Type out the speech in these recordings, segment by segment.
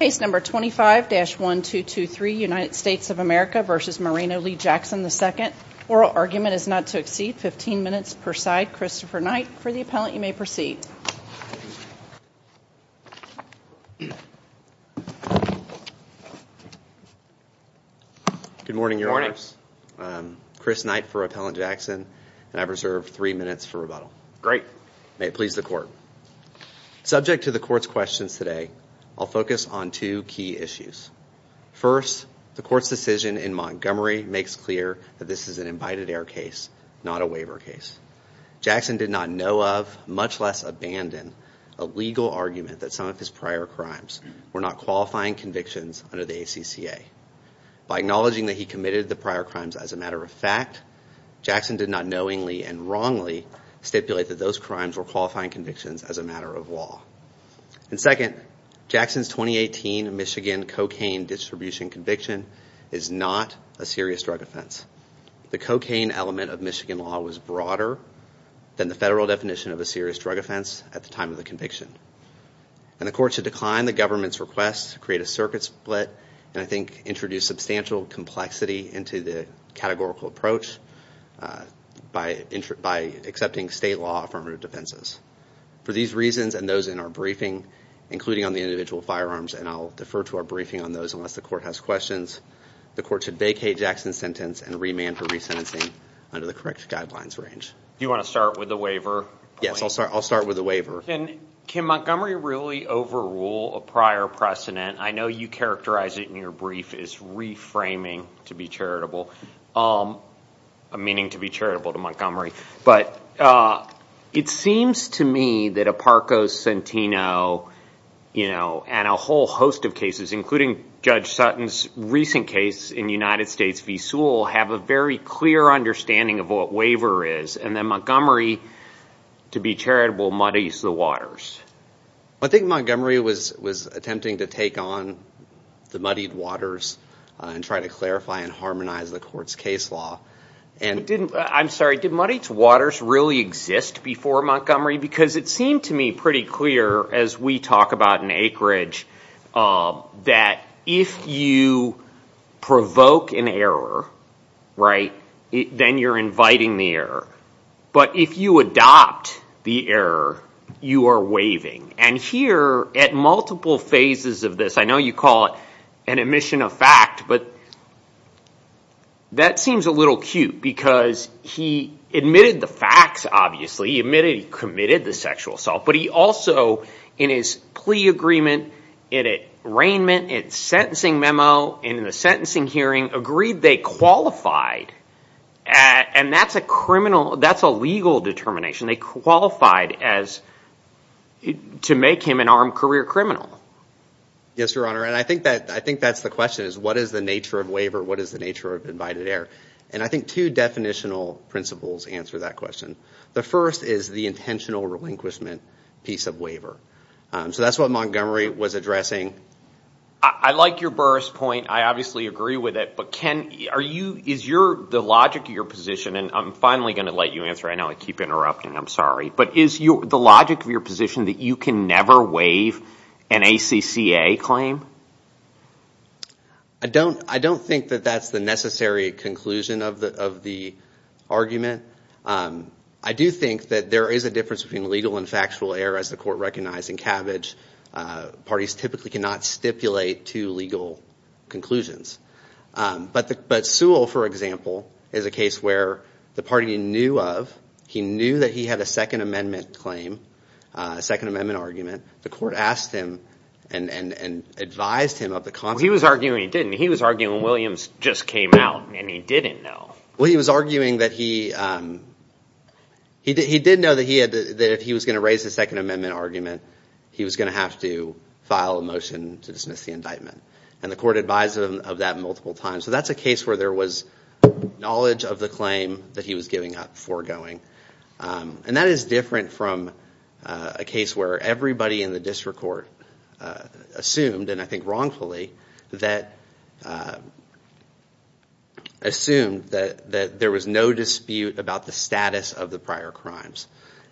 Case number 25-1223, United States of America v. Moreno Lee Jackson II. Oral argument is not to exceed 15 minutes per side. Christopher Knight, for the appellant, you may proceed. Good morning, Your Honors. Chris Knight for Appellant Jackson, and I reserve three minutes for rebuttal. Great. May it please the Court. Subject to the Court's questions today, I'll focus on two key issues. First, the Court's decision in Montgomery makes clear that this is an invited-air case, not a waiver case. Jackson did not know of, much less abandon, a legal argument that some of his prior crimes were not qualifying convictions under the ACCA. By acknowledging that he committed the prior crimes as a matter of fact, Jackson did not knowingly and wrongly stipulate that those crimes were qualifying convictions as a matter of law. And second, Jackson's 2018 Michigan cocaine distribution conviction is not a serious drug offense. The cocaine element of Michigan law was broader than the federal definition of a serious drug offense at the time of the conviction. And the Court should decline the government's request to create a circuit split, and I think introduce substantial complexity into the categorical approach by accepting state law affirmative defenses. For these reasons and those in our briefing, including on the individual firearms, and I'll defer to our briefing on those unless the Court has questions, the Court should vacate Jackson's sentence and remand for resentencing under the correct guidelines range. Do you want to start with the waiver? Yes, I'll start with the waiver. Can Montgomery really overrule a prior precedent? I know you characterized it in your brief as reframing to be charitable, meaning to be charitable to Montgomery. But it seems to me that Aparco, Centino, and a whole host of cases, including Judge Sutton's recent case in the United States v. Sewell, have a very clear understanding of what waiver is, and that Montgomery, to be charitable, muddies the waters. I think Montgomery was attempting to take on the muddied waters and try to clarify and harmonize the Court's case law. I'm sorry, did muddied waters really exist before Montgomery? Because it seemed to me pretty clear, as we talk about in Acreage, that if you provoke an error, then you're inviting the error. But if you adopt the error, you are waiving. And here, at multiple phases of this, I know you call it an admission of fact, but that seems a little cute because he admitted the facts, obviously. He admitted he committed the sexual assault, but he also, in his plea agreement, in his arraignment, in his sentencing memo, in the sentencing hearing, agreed they qualified, and that's a criminal, that's a legal determination, they qualified to make him an armed career criminal. Yes, Your Honor, and I think that's the question, is what is the nature of waiver, what is the nature of invited error? And I think two definitional principles answer that question. The first is the intentional relinquishment piece of waiver. So that's what Montgomery was addressing. I like your Burris point. I obviously agree with it. But, Ken, is the logic of your position, and I'm finally going to let you answer. I know I keep interrupting. I'm sorry. But is the logic of your position that you can never waive an ACCA claim? I don't think that that's the necessary conclusion of the argument. I do think that there is a difference between legal and factual error, as the Court recognized. Parties typically cannot stipulate two legal conclusions. But Sewell, for example, is a case where the party knew of, he knew that he had a Second Amendment claim, a Second Amendment argument. The Court asked him and advised him of the concept. He was arguing he didn't. He was arguing Williams just came out, and he didn't know. Well, he was arguing that he did know that if he was going to raise a Second Amendment argument, he was going to have to file a motion to dismiss the indictment. And the Court advised him of that multiple times. So that's a case where there was knowledge of the claim that he was giving up, foregoing. And that is different from a case where everybody in the district court assumed, and I think wrongfully, assumed that there was no dispute about the status of the prior crimes.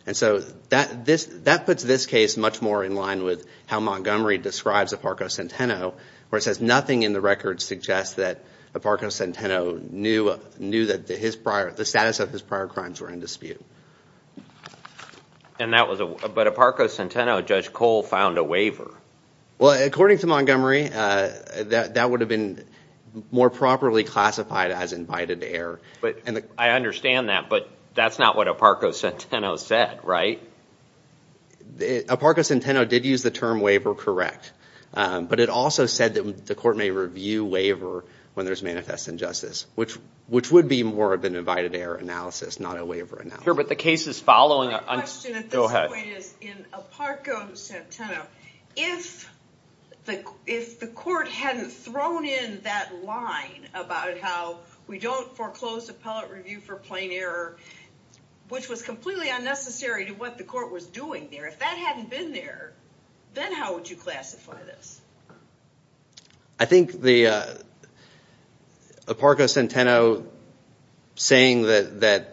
And so that puts this case much more in line with how Montgomery describes Aparco Centeno, where it says nothing in the record suggests that Aparco Centeno knew that the status of his prior crimes were in dispute. But Aparco Centeno, Judge Cole, found a waiver. Well, according to Montgomery, that would have been more properly classified as invited error. I understand that, but that's not what Aparco Centeno said, right? Aparco Centeno did use the term waiver correct, but it also said that the Court may review waiver when there's manifest injustice, which would be more of an invited error analysis, not a waiver analysis. My question at this point is, in Aparco Centeno, if the Court hadn't thrown in that line about how we don't foreclose appellate review for plain error, which was completely unnecessary to what the Court was doing there, if that hadn't been there, then how would you classify this? I think Aparco Centeno saying that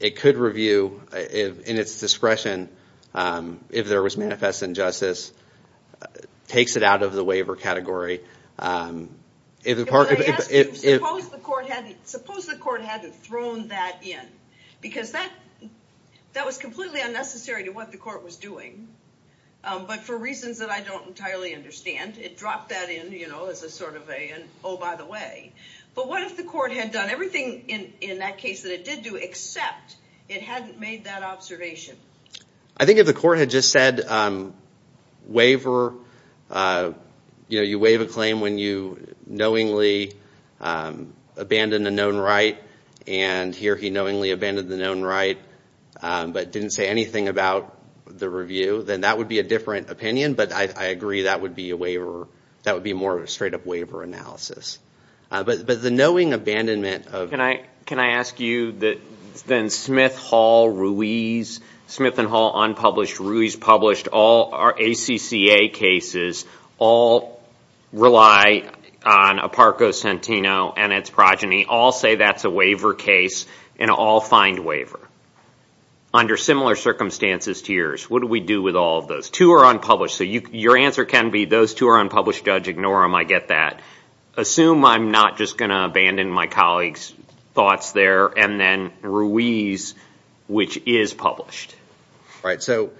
it could review in its discretion if there was manifest injustice takes it out of the waiver category. If I ask you, suppose the Court hadn't thrown that in, because that was completely unnecessary to what the Court was doing, but for reasons that I don't entirely understand, it dropped that in as a sort of a, oh, by the way. But what if the Court had done everything in that case that it did do, except it hadn't made that observation? I think if the Court had just said, you waive a claim when you knowingly abandoned a known right, and here he knowingly abandoned the known right, but didn't say anything about the review, then that would be a different opinion, but I agree that would be a waiver. That would be more of a straight-up waiver analysis. But the knowing abandonment of... Can I ask you that then Smith, Hall, Ruiz, Smith and Hall unpublished, Ruiz published, all our ACCA cases, all rely on Aparco Centeno and its progeny, all say that's a waiver case, and all find waiver. Under similar circumstances to yours, what do we do with all of those? Two are unpublished, so your answer can be, those two are unpublished, judge, ignore them, I get that. Assume I'm not just going to abandon my colleague's thoughts there, and then Ruiz, which is published. All right, so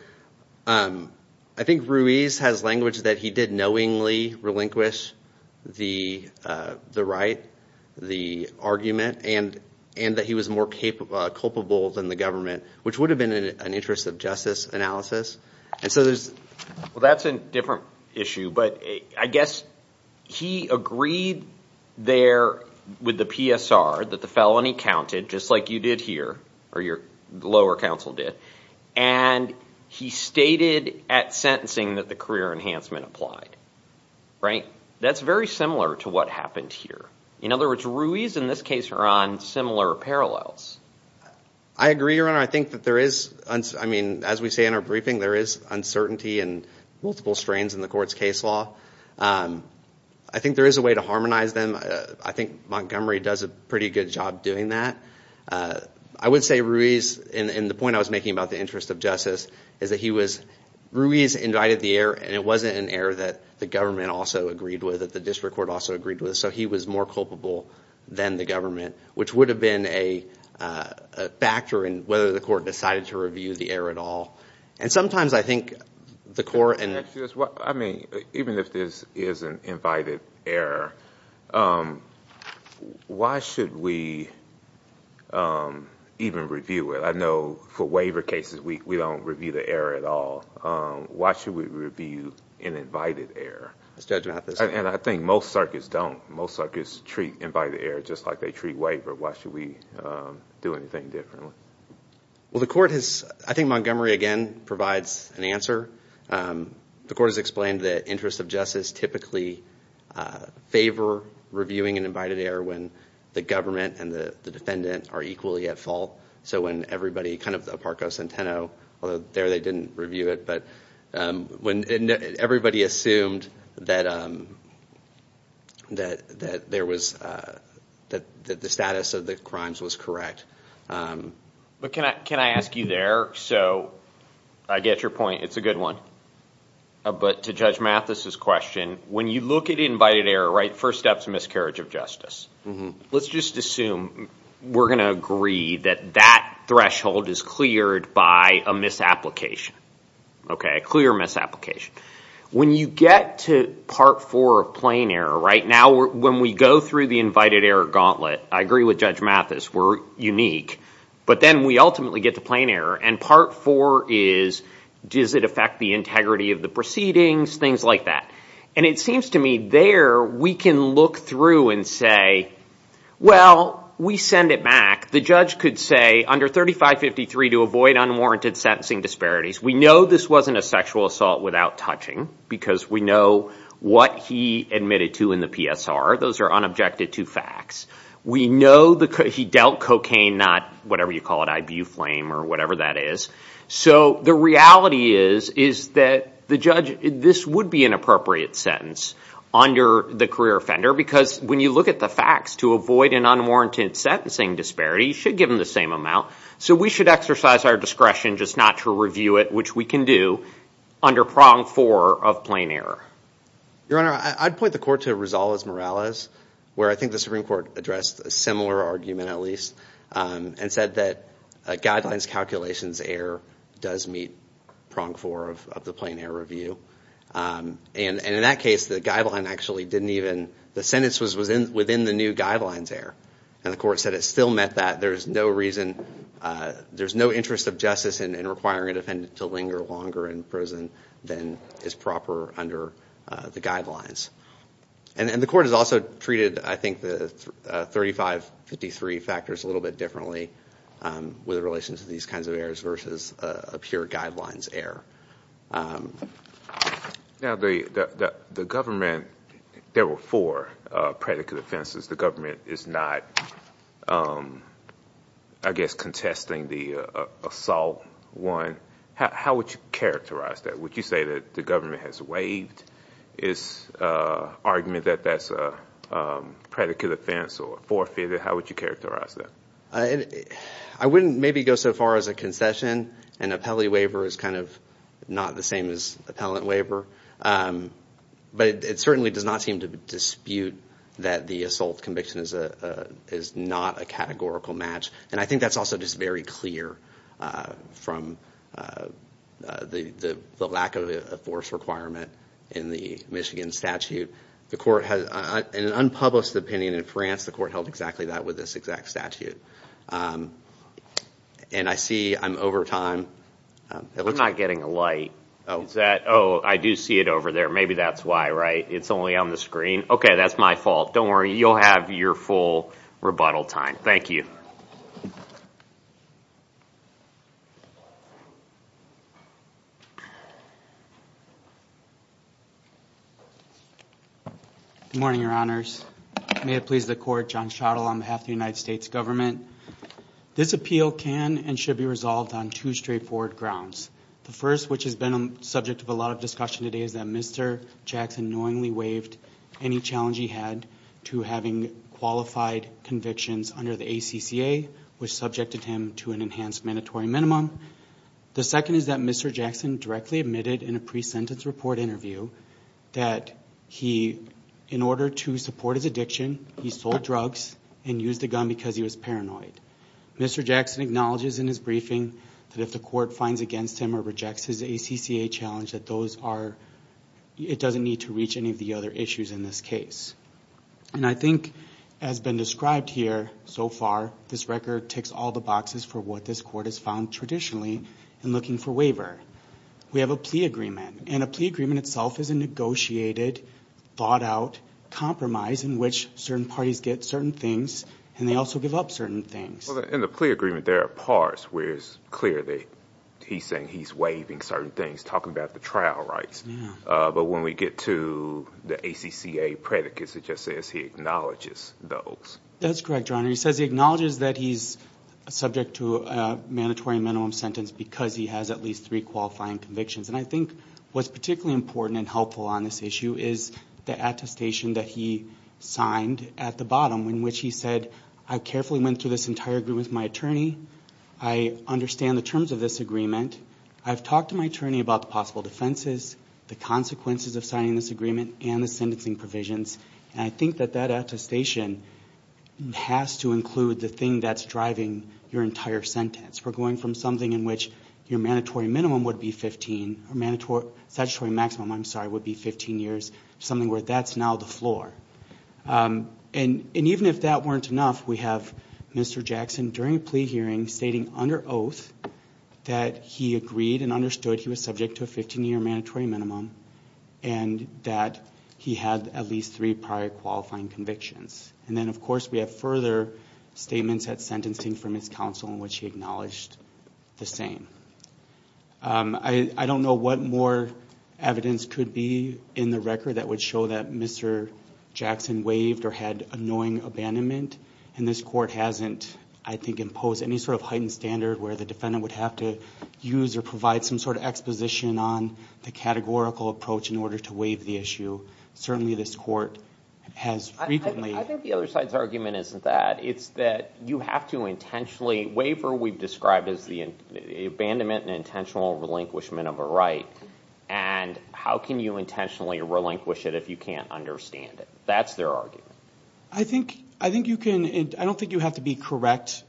I think Ruiz has language that he did knowingly relinquish the right, the argument, and that he was more culpable than the government, which would have been in an interest of justice analysis. Well, that's a different issue, but I guess he agreed there with the PSR that the felony counted, just like you did here, or your lower counsel did, and he stated at sentencing that the career enhancement applied. That's very similar to what happened here. In other words, Ruiz, in this case, are on similar parallels. I agree, Your Honor. I think that there is, as we say in our briefing, there is uncertainty and multiple strains in the court's case law. I think there is a way to harmonize them. I think Montgomery does a pretty good job doing that. I would say Ruiz, and the point I was making about the interest of justice, is that Ruiz invited the error, and it wasn't an error that the government also agreed with, that the district court also agreed with, so he was more culpable than the government, which would have been a factor in whether the court decided to review the error at all. Sometimes I think the court— Even if this is an invited error, why should we even review it? I know for waiver cases, we don't review the error at all. Why should we review an invited error? And I think most circuits don't. Most circuits treat invited error just like they treat waiver. Why should we do anything differently? Well, the court has—I think Montgomery, again, provides an answer. The court has explained the interest of justice typically favor reviewing an invited error when the government and the defendant are equally at fault, so when everybody kind of—Aparco Centeno, although there they didn't review it, but when everybody assumed that the status of the crimes was correct. But can I ask you there? So I get your point. It's a good one. But to Judge Mathis's question, when you look at invited error, right, first step's miscarriage of justice. Let's just assume we're going to agree that that threshold is cleared by a misapplication, a clear misapplication. When you get to part four of plain error, right, now when we go through the invited error gauntlet, I agree with Judge Mathis, we're unique, but then we ultimately get to plain error, and part four is, does it affect the integrity of the proceedings, things like that. And it seems to me there we can look through and say, well, we send it back. The judge could say under 3553 to avoid unwarranted sentencing disparities. We know this wasn't a sexual assault without touching because we know what he admitted to in the PSR. Those are unobjected to facts. We know he dealt cocaine, not whatever you call it, Ibuflame or whatever that is. So the reality is that the judge, this would be an appropriate sentence under the career offender because when you look at the facts, to avoid an unwarranted sentencing disparity, you should give them the same amount. So we should exercise our discretion just not to review it, which we can do under prong four of plain error. Your Honor, I'd point the court to Rosales-Morales, where I think the Supreme Court addressed a similar argument at least and said that guidelines calculations error does meet prong four of the plain error review. And in that case, the guideline actually didn't even, the sentence was within the new guidelines error. And the court said it still meant that there's no reason, there's no interest of justice in requiring a defendant to linger longer in prison than is proper under the guidelines. And the court has also treated, I think, the 3553 factors a little bit differently with relation to these kinds of errors versus a pure guidelines error. Now the government, there were four predicate offenses. The government is not, I guess, contesting the assault one. How would you characterize that? Would you say that the government has waived its argument that that's a predicate offense or forfeited? How would you characterize that? I wouldn't maybe go so far as a concession. An appellee waiver is kind of not the same as appellant waiver. But it certainly does not seem to dispute that the assault conviction is not a categorical match. And I think that's also just very clear from the lack of a force requirement in the Michigan statute. In an unpublished opinion in France, the court held exactly that with this exact statute. And I see I'm over time. I'm not getting a light. Oh, I do see it over there. Maybe that's why, right? It's only on the screen. Okay, that's my fault. Don't worry. You'll have your full rebuttal time. Thank you. Good morning, Your Honors. May it please the court, John Schottel on behalf of the United States government. This appeal can and should be resolved on two straightforward grounds. The first, which has been the subject of a lot of discussion today, is that Mr. Jackson knowingly waived any challenge he had to having qualified convictions under the ACCA, which subjected him to an enhanced mandatory minimum. The second is that Mr. Jackson directly admitted in a pre-sentence report interview that in order to support his addiction, he sold drugs and used a gun because he was paranoid. Mr. Jackson acknowledges in his briefing that if the court finds against him or rejects his ACCA challenge, that it doesn't need to reach any of the other issues in this case. And I think as been described here so far, this record ticks all the boxes for what this court has found traditionally in looking for waiver. We have a plea agreement, and a plea agreement itself is a negotiated, thought-out compromise in which certain parties get certain things, and they also give up certain things. In the plea agreement, there are parts where it's clear that he's saying he's waiving certain things, talking about the trial rights. But when we get to the ACCA predicates, it just says he acknowledges those. That's correct, Your Honor. He says he acknowledges that he's subject to a mandatory minimum sentence because he has at least three qualifying convictions. And I think what's particularly important and helpful on this issue is the attestation that he signed at the bottom, in which he said, I carefully went through this entire agreement with my attorney. I understand the terms of this agreement. I've talked to my attorney about the possible defenses, the consequences of signing this agreement, and the sentencing provisions. And I think that that attestation has to include the thing that's driving your entire sentence. We're going from something in which your mandatory minimum would be 15, or statutory maximum, I'm sorry, would be 15 years, to something where that's now the floor. And even if that weren't enough, we have Mr. Jackson, during a plea hearing, stating under oath that he agreed and understood he was subject to a 15-year mandatory minimum and that he had at least three prior qualifying convictions. And then, of course, we have further statements at sentencing from his counsel in which he acknowledged the same. I don't know what more evidence could be in the record that would show that Mr. Jackson waived or had a knowing abandonment, and this court hasn't, I think, imposed any sort of heightened standard where the defendant would have to use or provide some sort of exposition on the categorical approach in order to waive the issue. Certainly, this court has frequently. I think the other side's argument isn't that. It's that you have to intentionally waive what we've described as the abandonment and intentional relinquishment of a right, and how can you intentionally relinquish it if you can't understand it? That's their argument. I don't think you have to be correct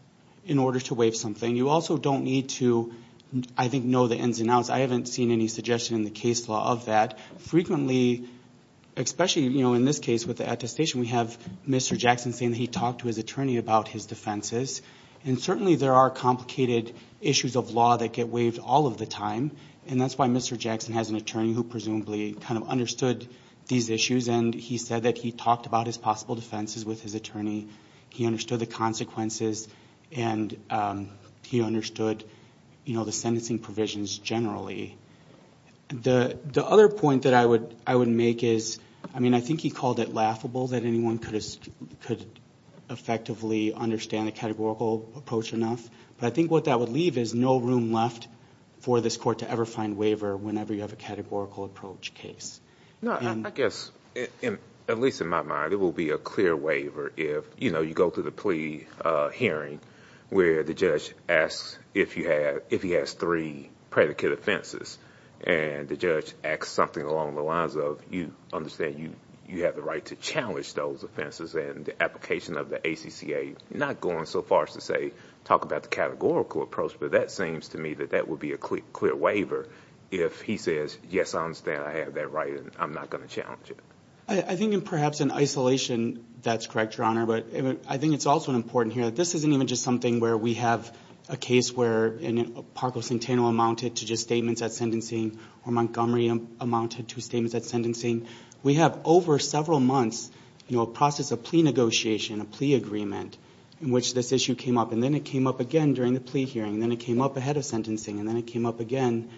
in order to waive something. You also don't need to, I think, know the ins and outs. I haven't seen any suggestion in the case law of that. Frequently, especially in this case with the attestation, we have Mr. Jackson saying that he talked to his attorney about his defenses, and certainly there are complicated issues of law that get waived all of the time, and that's why Mr. Jackson has an attorney who presumably kind of understood these issues, and he said that he talked about his possible defenses with his attorney. He understood the consequences, and he understood the sentencing provisions generally. The other point that I would make is, I mean, I think he called it laughable that anyone could effectively understand a categorical approach enough, but I think what that would leave is no room left for this court to ever find waiver whenever you have a categorical approach case. No, I guess, at least in my mind, it will be a clear waiver if, you know, you go through the plea hearing where the judge asks if he has three predicate offenses, and the judge asks something along the lines of, you understand you have the right to challenge those offenses, and the application of the ACCA, not going so far as to say talk about the categorical approach, but that seems to me that that would be a clear waiver if he says, yes, I understand I have that right and I'm not going to challenge it. I think perhaps in isolation that's correct, Your Honor, but I think it's also important here that this isn't even just something where we have a case where Paco Centeno amounted to just statements at sentencing or Montgomery amounted to statements at sentencing. We have over several months, you know, a process of plea negotiation, a plea agreement in which this issue came up, and then it came up again during the plea hearing, and then it came up ahead of sentencing, and then it came up again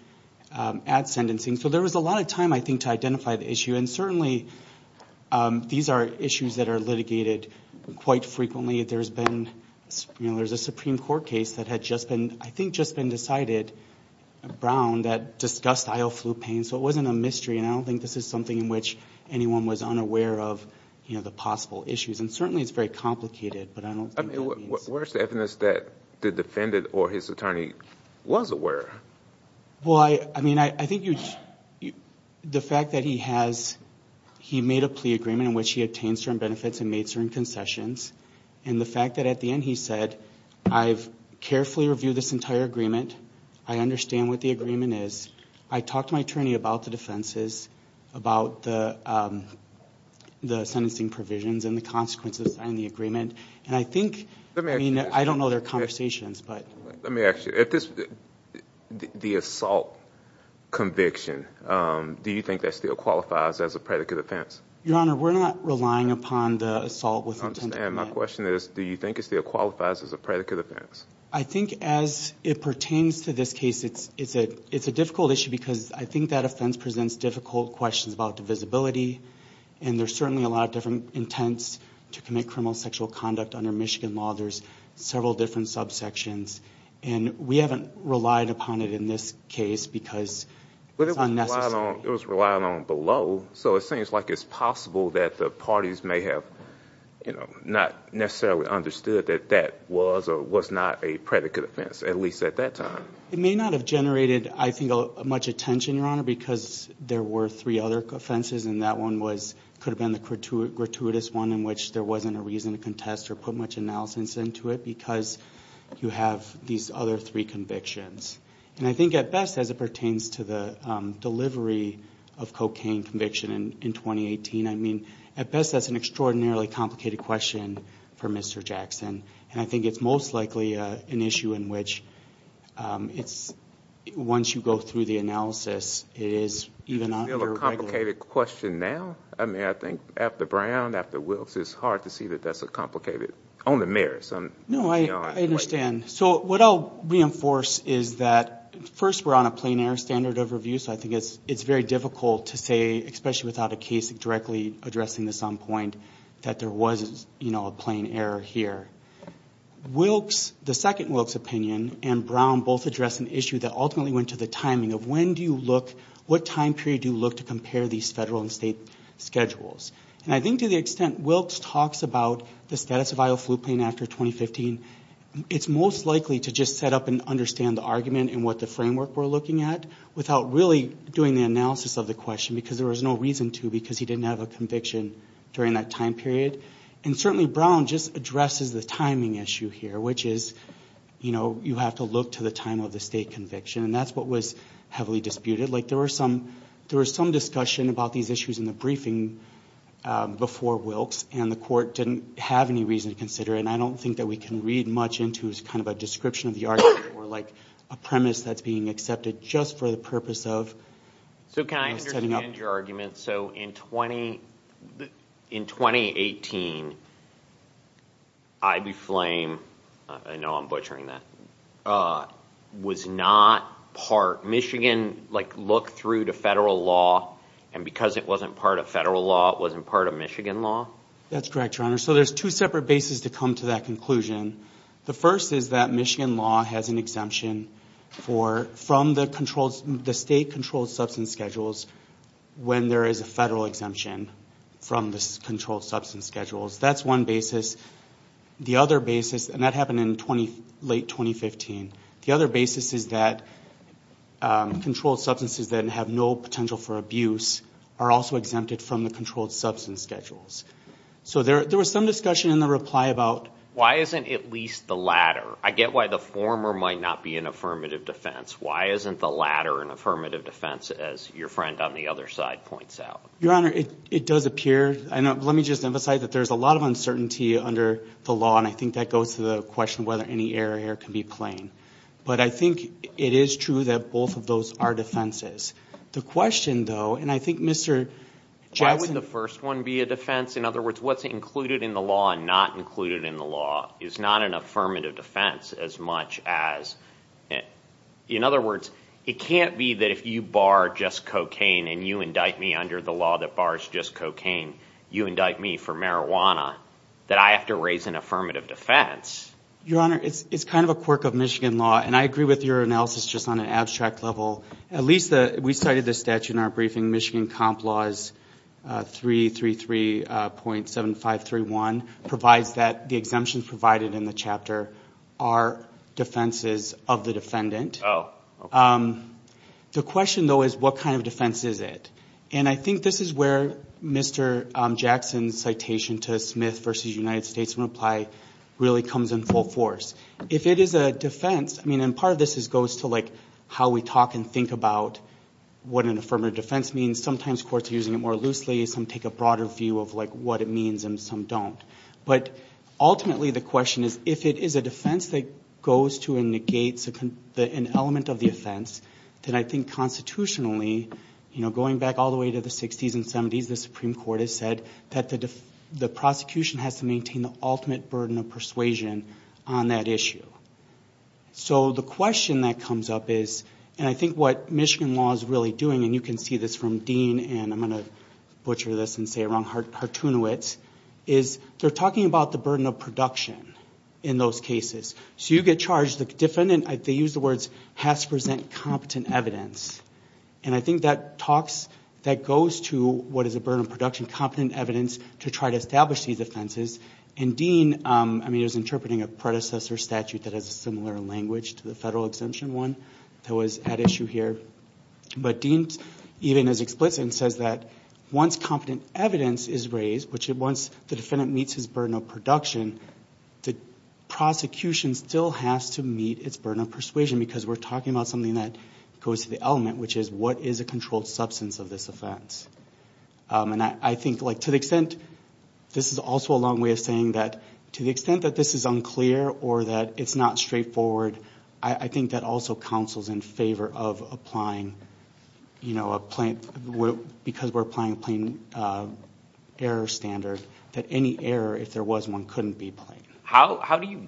at sentencing. So there was a lot of time, I think, to identify the issue, and certainly these are issues that are litigated quite frequently. There's been, you know, there's a Supreme Court case that had just been, I think, just been decided, Brown, that discussed IO flu pain, so it wasn't a mystery, and I don't think this is something in which anyone was unaware of, you know, the possible issues, and certainly it's very complicated, but I don't think that means. Where's the evidence that the defendant or his attorney was aware? Well, I mean, I think the fact that he has, he made a plea agreement in which he obtained certain benefits and made certain concessions, and the fact that at the end he said, I've carefully reviewed this entire agreement, I understand what the agreement is, I talked to my attorney about the defenses, about the sentencing provisions and the consequences on the agreement, and I think, I mean, I don't know their conversations, but. Let me ask you, if this, the assault conviction, do you think that still qualifies as a predicate offense? Your Honor, we're not relying upon the assault with intent. And my question is, do you think it still qualifies as a predicate offense? I think as it pertains to this case, it's a difficult issue because I think that offense presents difficult questions about divisibility, and there's certainly a lot of different intents to commit criminal sexual conduct under Michigan law. There's several different subsections, and we haven't relied upon it in this case because it's unnecessary. But it was relied on below, so it seems like it's possible that the parties may have, you know, not necessarily understood that that was or was not a predicate offense, at least at that time. It may not have generated, I think, much attention, Your Honor, because there were three other offenses, and that one was, could have been the gratuitous one in which there wasn't a reason to contest or put much analysis into it because you have these other three convictions. And I think at best, as it pertains to the delivery of cocaine conviction in 2018, I mean, at best, that's an extraordinarily complicated question for Mr. Jackson. And I think it's most likely an issue in which it's, once you go through the analysis, it is even under regular. Is it still a complicated question now? I mean, I think after Brown, after Wilkes, it's hard to see that that's a complicated, on the merits. No, I understand. So what I'll reinforce is that, first, we're on a plein air standard of review, so I think it's very difficult to say, especially without a case directly addressing this on point, that there was, you know, a plein air here. Wilkes, the second Wilkes opinion, and Brown both address an issue that ultimately went to the timing of when do you look, what time period do you look to compare these federal and state schedules? And I think to the extent Wilkes talks about the status of Iowa Flu Plain after 2015, it's most likely to just set up and understand the argument and what the framework we're looking at without really doing the analysis of the question because there was no reason to because he didn't have a conviction during that time period. And certainly Brown just addresses the timing issue here, which is, you know, you have to look to the time of the state conviction, and that's what was heavily disputed. Like, there was some discussion about these issues in the briefing before Wilkes, and the court didn't have any reason to consider it, and I don't think that we can read much into as kind of a description of the argument or like a premise that's being accepted just for the purpose of setting up. So can I understand your argument? So in 2018, Ibey Flame, I know I'm butchering that, was not part, Michigan, like, looked through to federal law, and because it wasn't part of federal law, it wasn't part of Michigan law? That's correct, Your Honor. So there's two separate bases to come to that conclusion. The first is that Michigan law has an exemption from the state controlled substance schedules when there is a federal exemption from the controlled substance schedules. That's one basis. The other basis, and that happened in late 2015, the other basis is that controlled substances that have no potential for abuse are also exempted from the controlled substance schedules. So there was some discussion in the reply about why isn't at least the latter? I get why the former might not be an affirmative defense. Why isn't the latter an affirmative defense, as your friend on the other side points out? Your Honor, it does appear. Let me just emphasize that there's a lot of uncertainty under the law, and I think that goes to the question of whether any error here can be plain. But I think it is true that both of those are defenses. The question, though, and I think Mr. Jackson Why would the first one be a defense? In other words, what's included in the law and not included in the law is not an affirmative defense as much as it. In other words, it can't be that if you bar just cocaine and you indict me under the law that bars just cocaine, you indict me for marijuana, that I have to raise an affirmative defense. Your Honor, it's kind of a quirk of Michigan law, and I agree with your analysis just on an abstract level. We cited the statute in our briefing. Michigan Comp Laws 333.7531 provides that the exemptions provided in the chapter are defenses of the defendant. The question, though, is what kind of defense is it? And I think this is where Mr. Jackson's citation to Smith v. United States in reply really comes in full force. If it is a defense, and part of this goes to how we talk and think about what an affirmative defense means. Sometimes courts are using it more loosely. Some take a broader view of what it means, and some don't. But ultimately the question is if it is a defense that goes to and negates an element of the offense, then I think constitutionally, going back all the way to the 60s and 70s, the Supreme Court has said that the prosecution has to maintain the ultimate burden of persuasion on that issue. So the question that comes up is, and I think what Michigan law is really doing, and you can see this from Dean, and I'm going to butcher this and say it wrong, Hartunowicz, is they're talking about the burden of production in those cases. So you get charged, the defendant, they use the words, has to present competent evidence. And I think that talks, that goes to what is a burden of production, competent evidence to try to establish these offenses. And Dean is interpreting a predecessor statute that has a similar language to the federal exemption one that was at issue here. But Dean, even as explicit, says that once competent evidence is raised, which once the defendant meets his burden of production, the prosecution still has to meet its burden of persuasion because we're talking about something that goes to the element, which is what is a controlled substance of this offense. And I think to the extent, this is also a long way of saying that to the extent that this is unclear or that it's not straightforward, I think that also counsels in favor of applying, because we're applying a plain error standard, that any error, if there was one, couldn't be plain. How do you,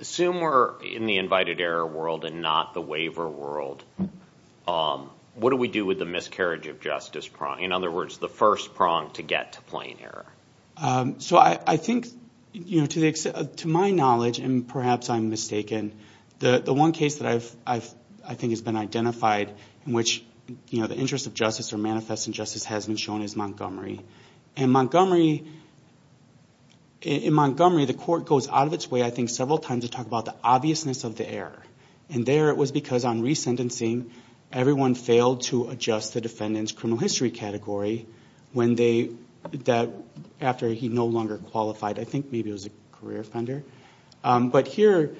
assume we're in the invited error world and not the waiver world, what do we do with the miscarriage of justice prong? In other words, the first prong to get to plain error. So I think, to my knowledge, and perhaps I'm mistaken, the one case that I think has been identified in which the interest of justice or manifest injustice has been shown is Montgomery. In Montgomery, the court goes out of its way, I think, several times to talk about the obviousness of the error. And there it was because on resentencing, everyone failed to adjust the defendant's criminal history category after he no longer qualified. I think maybe it was a career offender. But here,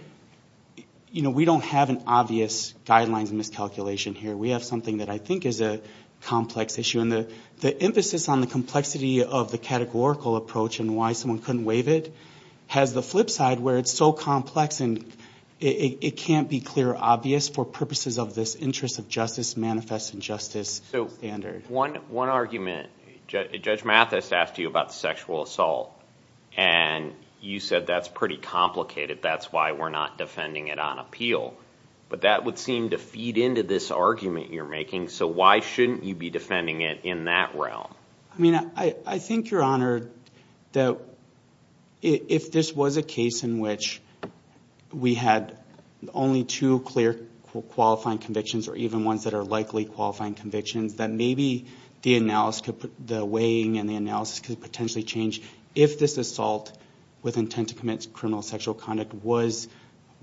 we don't have an obvious guidelines miscalculation here. We have something that I think is a complex issue. And the emphasis on the complexity of the categorical approach and why someone couldn't waive it has the flip side where it's so complex and it can't be clear or obvious for purposes of this interest of justice, manifest injustice standard. One argument. Judge Mathis asked you about sexual assault. And you said that's pretty complicated. That's why we're not defending it on appeal. But that would seem to feed into this argument you're making. So why shouldn't you be defending it in that realm? I think, Your Honor, if this was a case in which we had only two clear qualifying convictions or even ones that are likely qualifying convictions, then maybe the weighing and the analysis could potentially change if this assault with intent to commit criminal sexual conduct was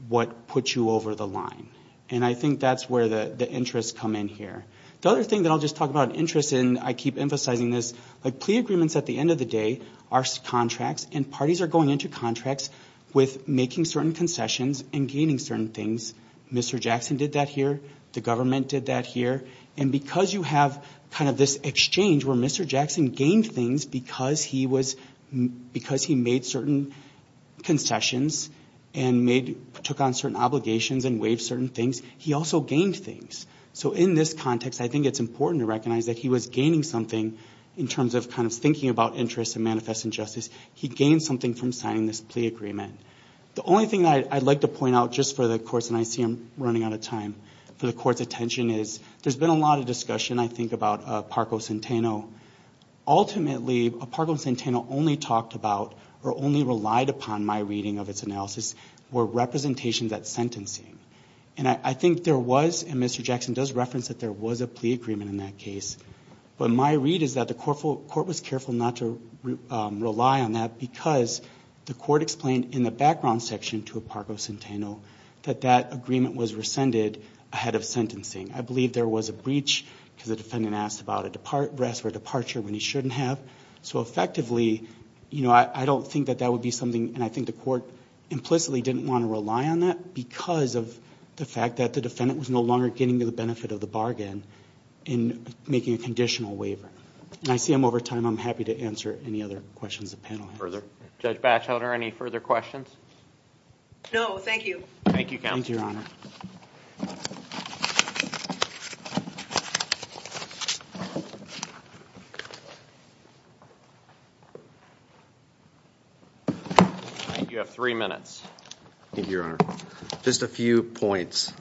what put you over the line. And I think that's where the interests come in here. The other thing that I'll just talk about interest in, I keep emphasizing this, but plea agreements at the end of the day are contracts, and parties are going into contracts with making certain concessions and gaining certain things. Mr. Jackson did that here. The government did that here. And because you have kind of this exchange where Mr. Jackson gained things because he made certain concessions and took on certain obligations and waived certain things, he also gained things. So in this context, I think it's important to recognize that he was gaining something in terms of kind of thinking about interests and manifesting justice. He gained something from signing this plea agreement. The only thing that I'd like to point out just for the courts, and I see I'm running out of time, for the court's attention, is there's been a lot of discussion, I think, about Parco Centeno. Ultimately, Parco Centeno only talked about or only relied upon my reading of its analysis were representations at sentencing. And I think there was, and Mr. Jackson does reference that there was a plea agreement in that case. But my read is that the court was careful not to rely on that because the court explained in the background section to Parco Centeno that that agreement was rescinded ahead of sentencing. I believe there was a breach because the defendant asked about a rest or departure when he shouldn't have. So effectively, I don't think that that would be something, and I think the court implicitly didn't want to rely on that because of the fact that the defendant was no longer getting to the benefit of the bargain in making a conditional waiver. And I see I'm over time. I'm happy to answer any other questions the panel has. Further? Judge Batchelder, any further questions? No, thank you. Thank you, counsel. Thank you, Your Honor. You have three minutes. Thank you, Your Honor. Just a few points.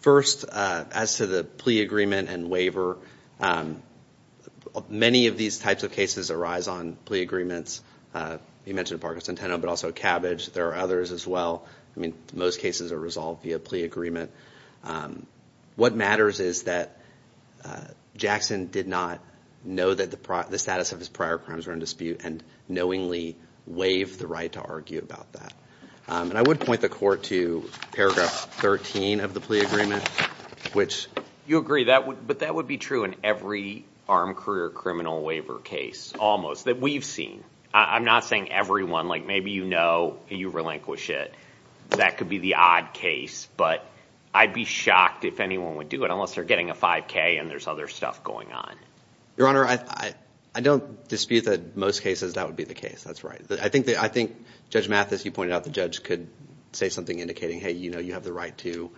First, as to the plea agreement and waiver, many of these types of cases arise on plea agreements. You mentioned Parco Centeno, but also Cabbage. There are others as well. I mean, most cases are resolved via plea agreement. What matters is that Jackson did not know that the status of his prior crimes were in dispute and knowingly waived the right to argue about that. And I would point the court to paragraph 13 of the plea agreement, which... You agree, but that would be true in every armed career criminal waiver case, almost, that we've seen. I'm not saying everyone. Like, maybe you know and you relinquish it. That could be the odd case, but I'd be shocked if anyone would do it unless they're getting a 5K and there's other stuff going on. Your Honor, I don't dispute that in most cases that would be the case. That's right. I think Judge Mathis, you pointed out the judge could say something indicating, hey, you have the right to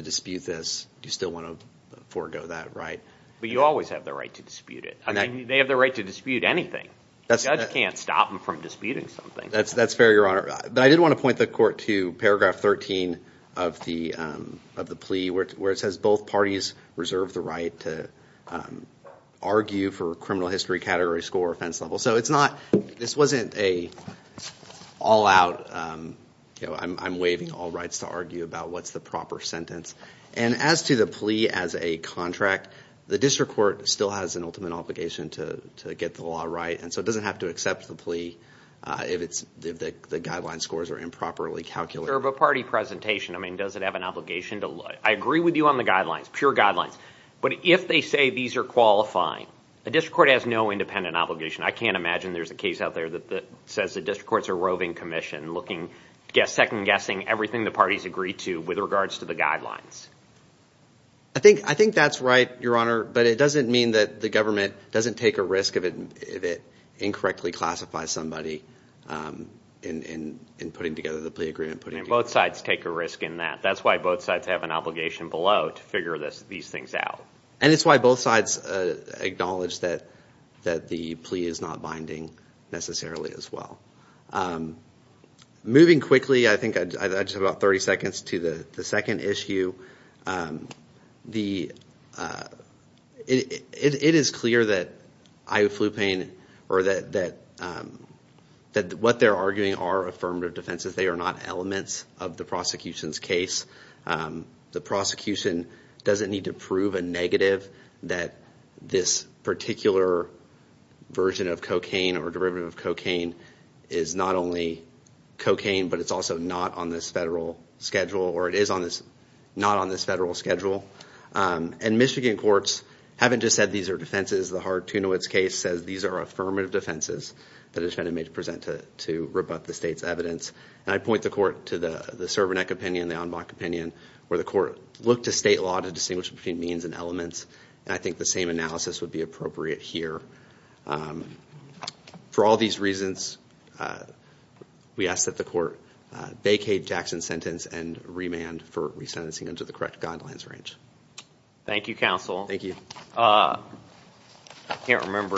dispute this. Do you still want to forego that right? But you always have the right to dispute it. They have the right to dispute anything. The judge can't stop them from disputing something. That's fair, Your Honor. But I did want to point the court to paragraph 13 of the plea, where it says both parties reserve the right to argue for criminal history, category, score, offense level. So it's not, this wasn't an all out, you know, I'm waiving all rights to argue about what's the proper sentence. And as to the plea as a contract, the district court still has an ultimate obligation to get the law right, and so it doesn't have to accept the plea if the guideline scores are improperly calculated. For a party presentation, I mean, does it have an obligation to look? I agree with you on the guidelines, pure guidelines. But if they say these are qualifying, a district court has no independent obligation. I can't imagine there's a case out there that says the district courts are roving commission, looking, second guessing everything the parties agree to with regards to the guidelines. I think that's right, Your Honor, but it doesn't mean that the government doesn't take a risk if it incorrectly classifies somebody in putting together the plea agreement. Both sides take a risk in that. That's why both sides have an obligation below to figure these things out. And it's why both sides acknowledge that the plea is not binding necessarily as well. Moving quickly, I think I just have about 30 seconds to the second issue. It is clear that what they're arguing are affirmative defenses. They are not elements of the prosecution's case. The prosecution doesn't need to prove a negative that this particular version of cocaine or derivative of cocaine is not only cocaine, but it's also not on this federal schedule, or it is not on this federal schedule. And Michigan courts haven't just said these are defenses. The Hart-Tunowitz case says these are affirmative defenses that a defendant may present to rebut the state's evidence. And I point the court to the Cervanek opinion, the Anbach opinion, where the court looked to state law to distinguish between means and elements, and I think the same analysis would be appropriate here. For all these reasons, we ask that the court vacate Jackson's sentence and remand for resentencing under the correct guidelines range. Thank you, counsel. Thank you. I can't remember,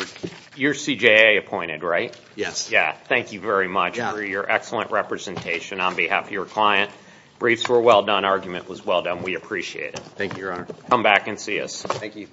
you're CJA appointed, right? Yes. Thank you very much for your excellent representation on behalf of your client. Briefs were well done. Argument was well done. We appreciate it. Thank you, Your Honor. Come back and see us. Thank you.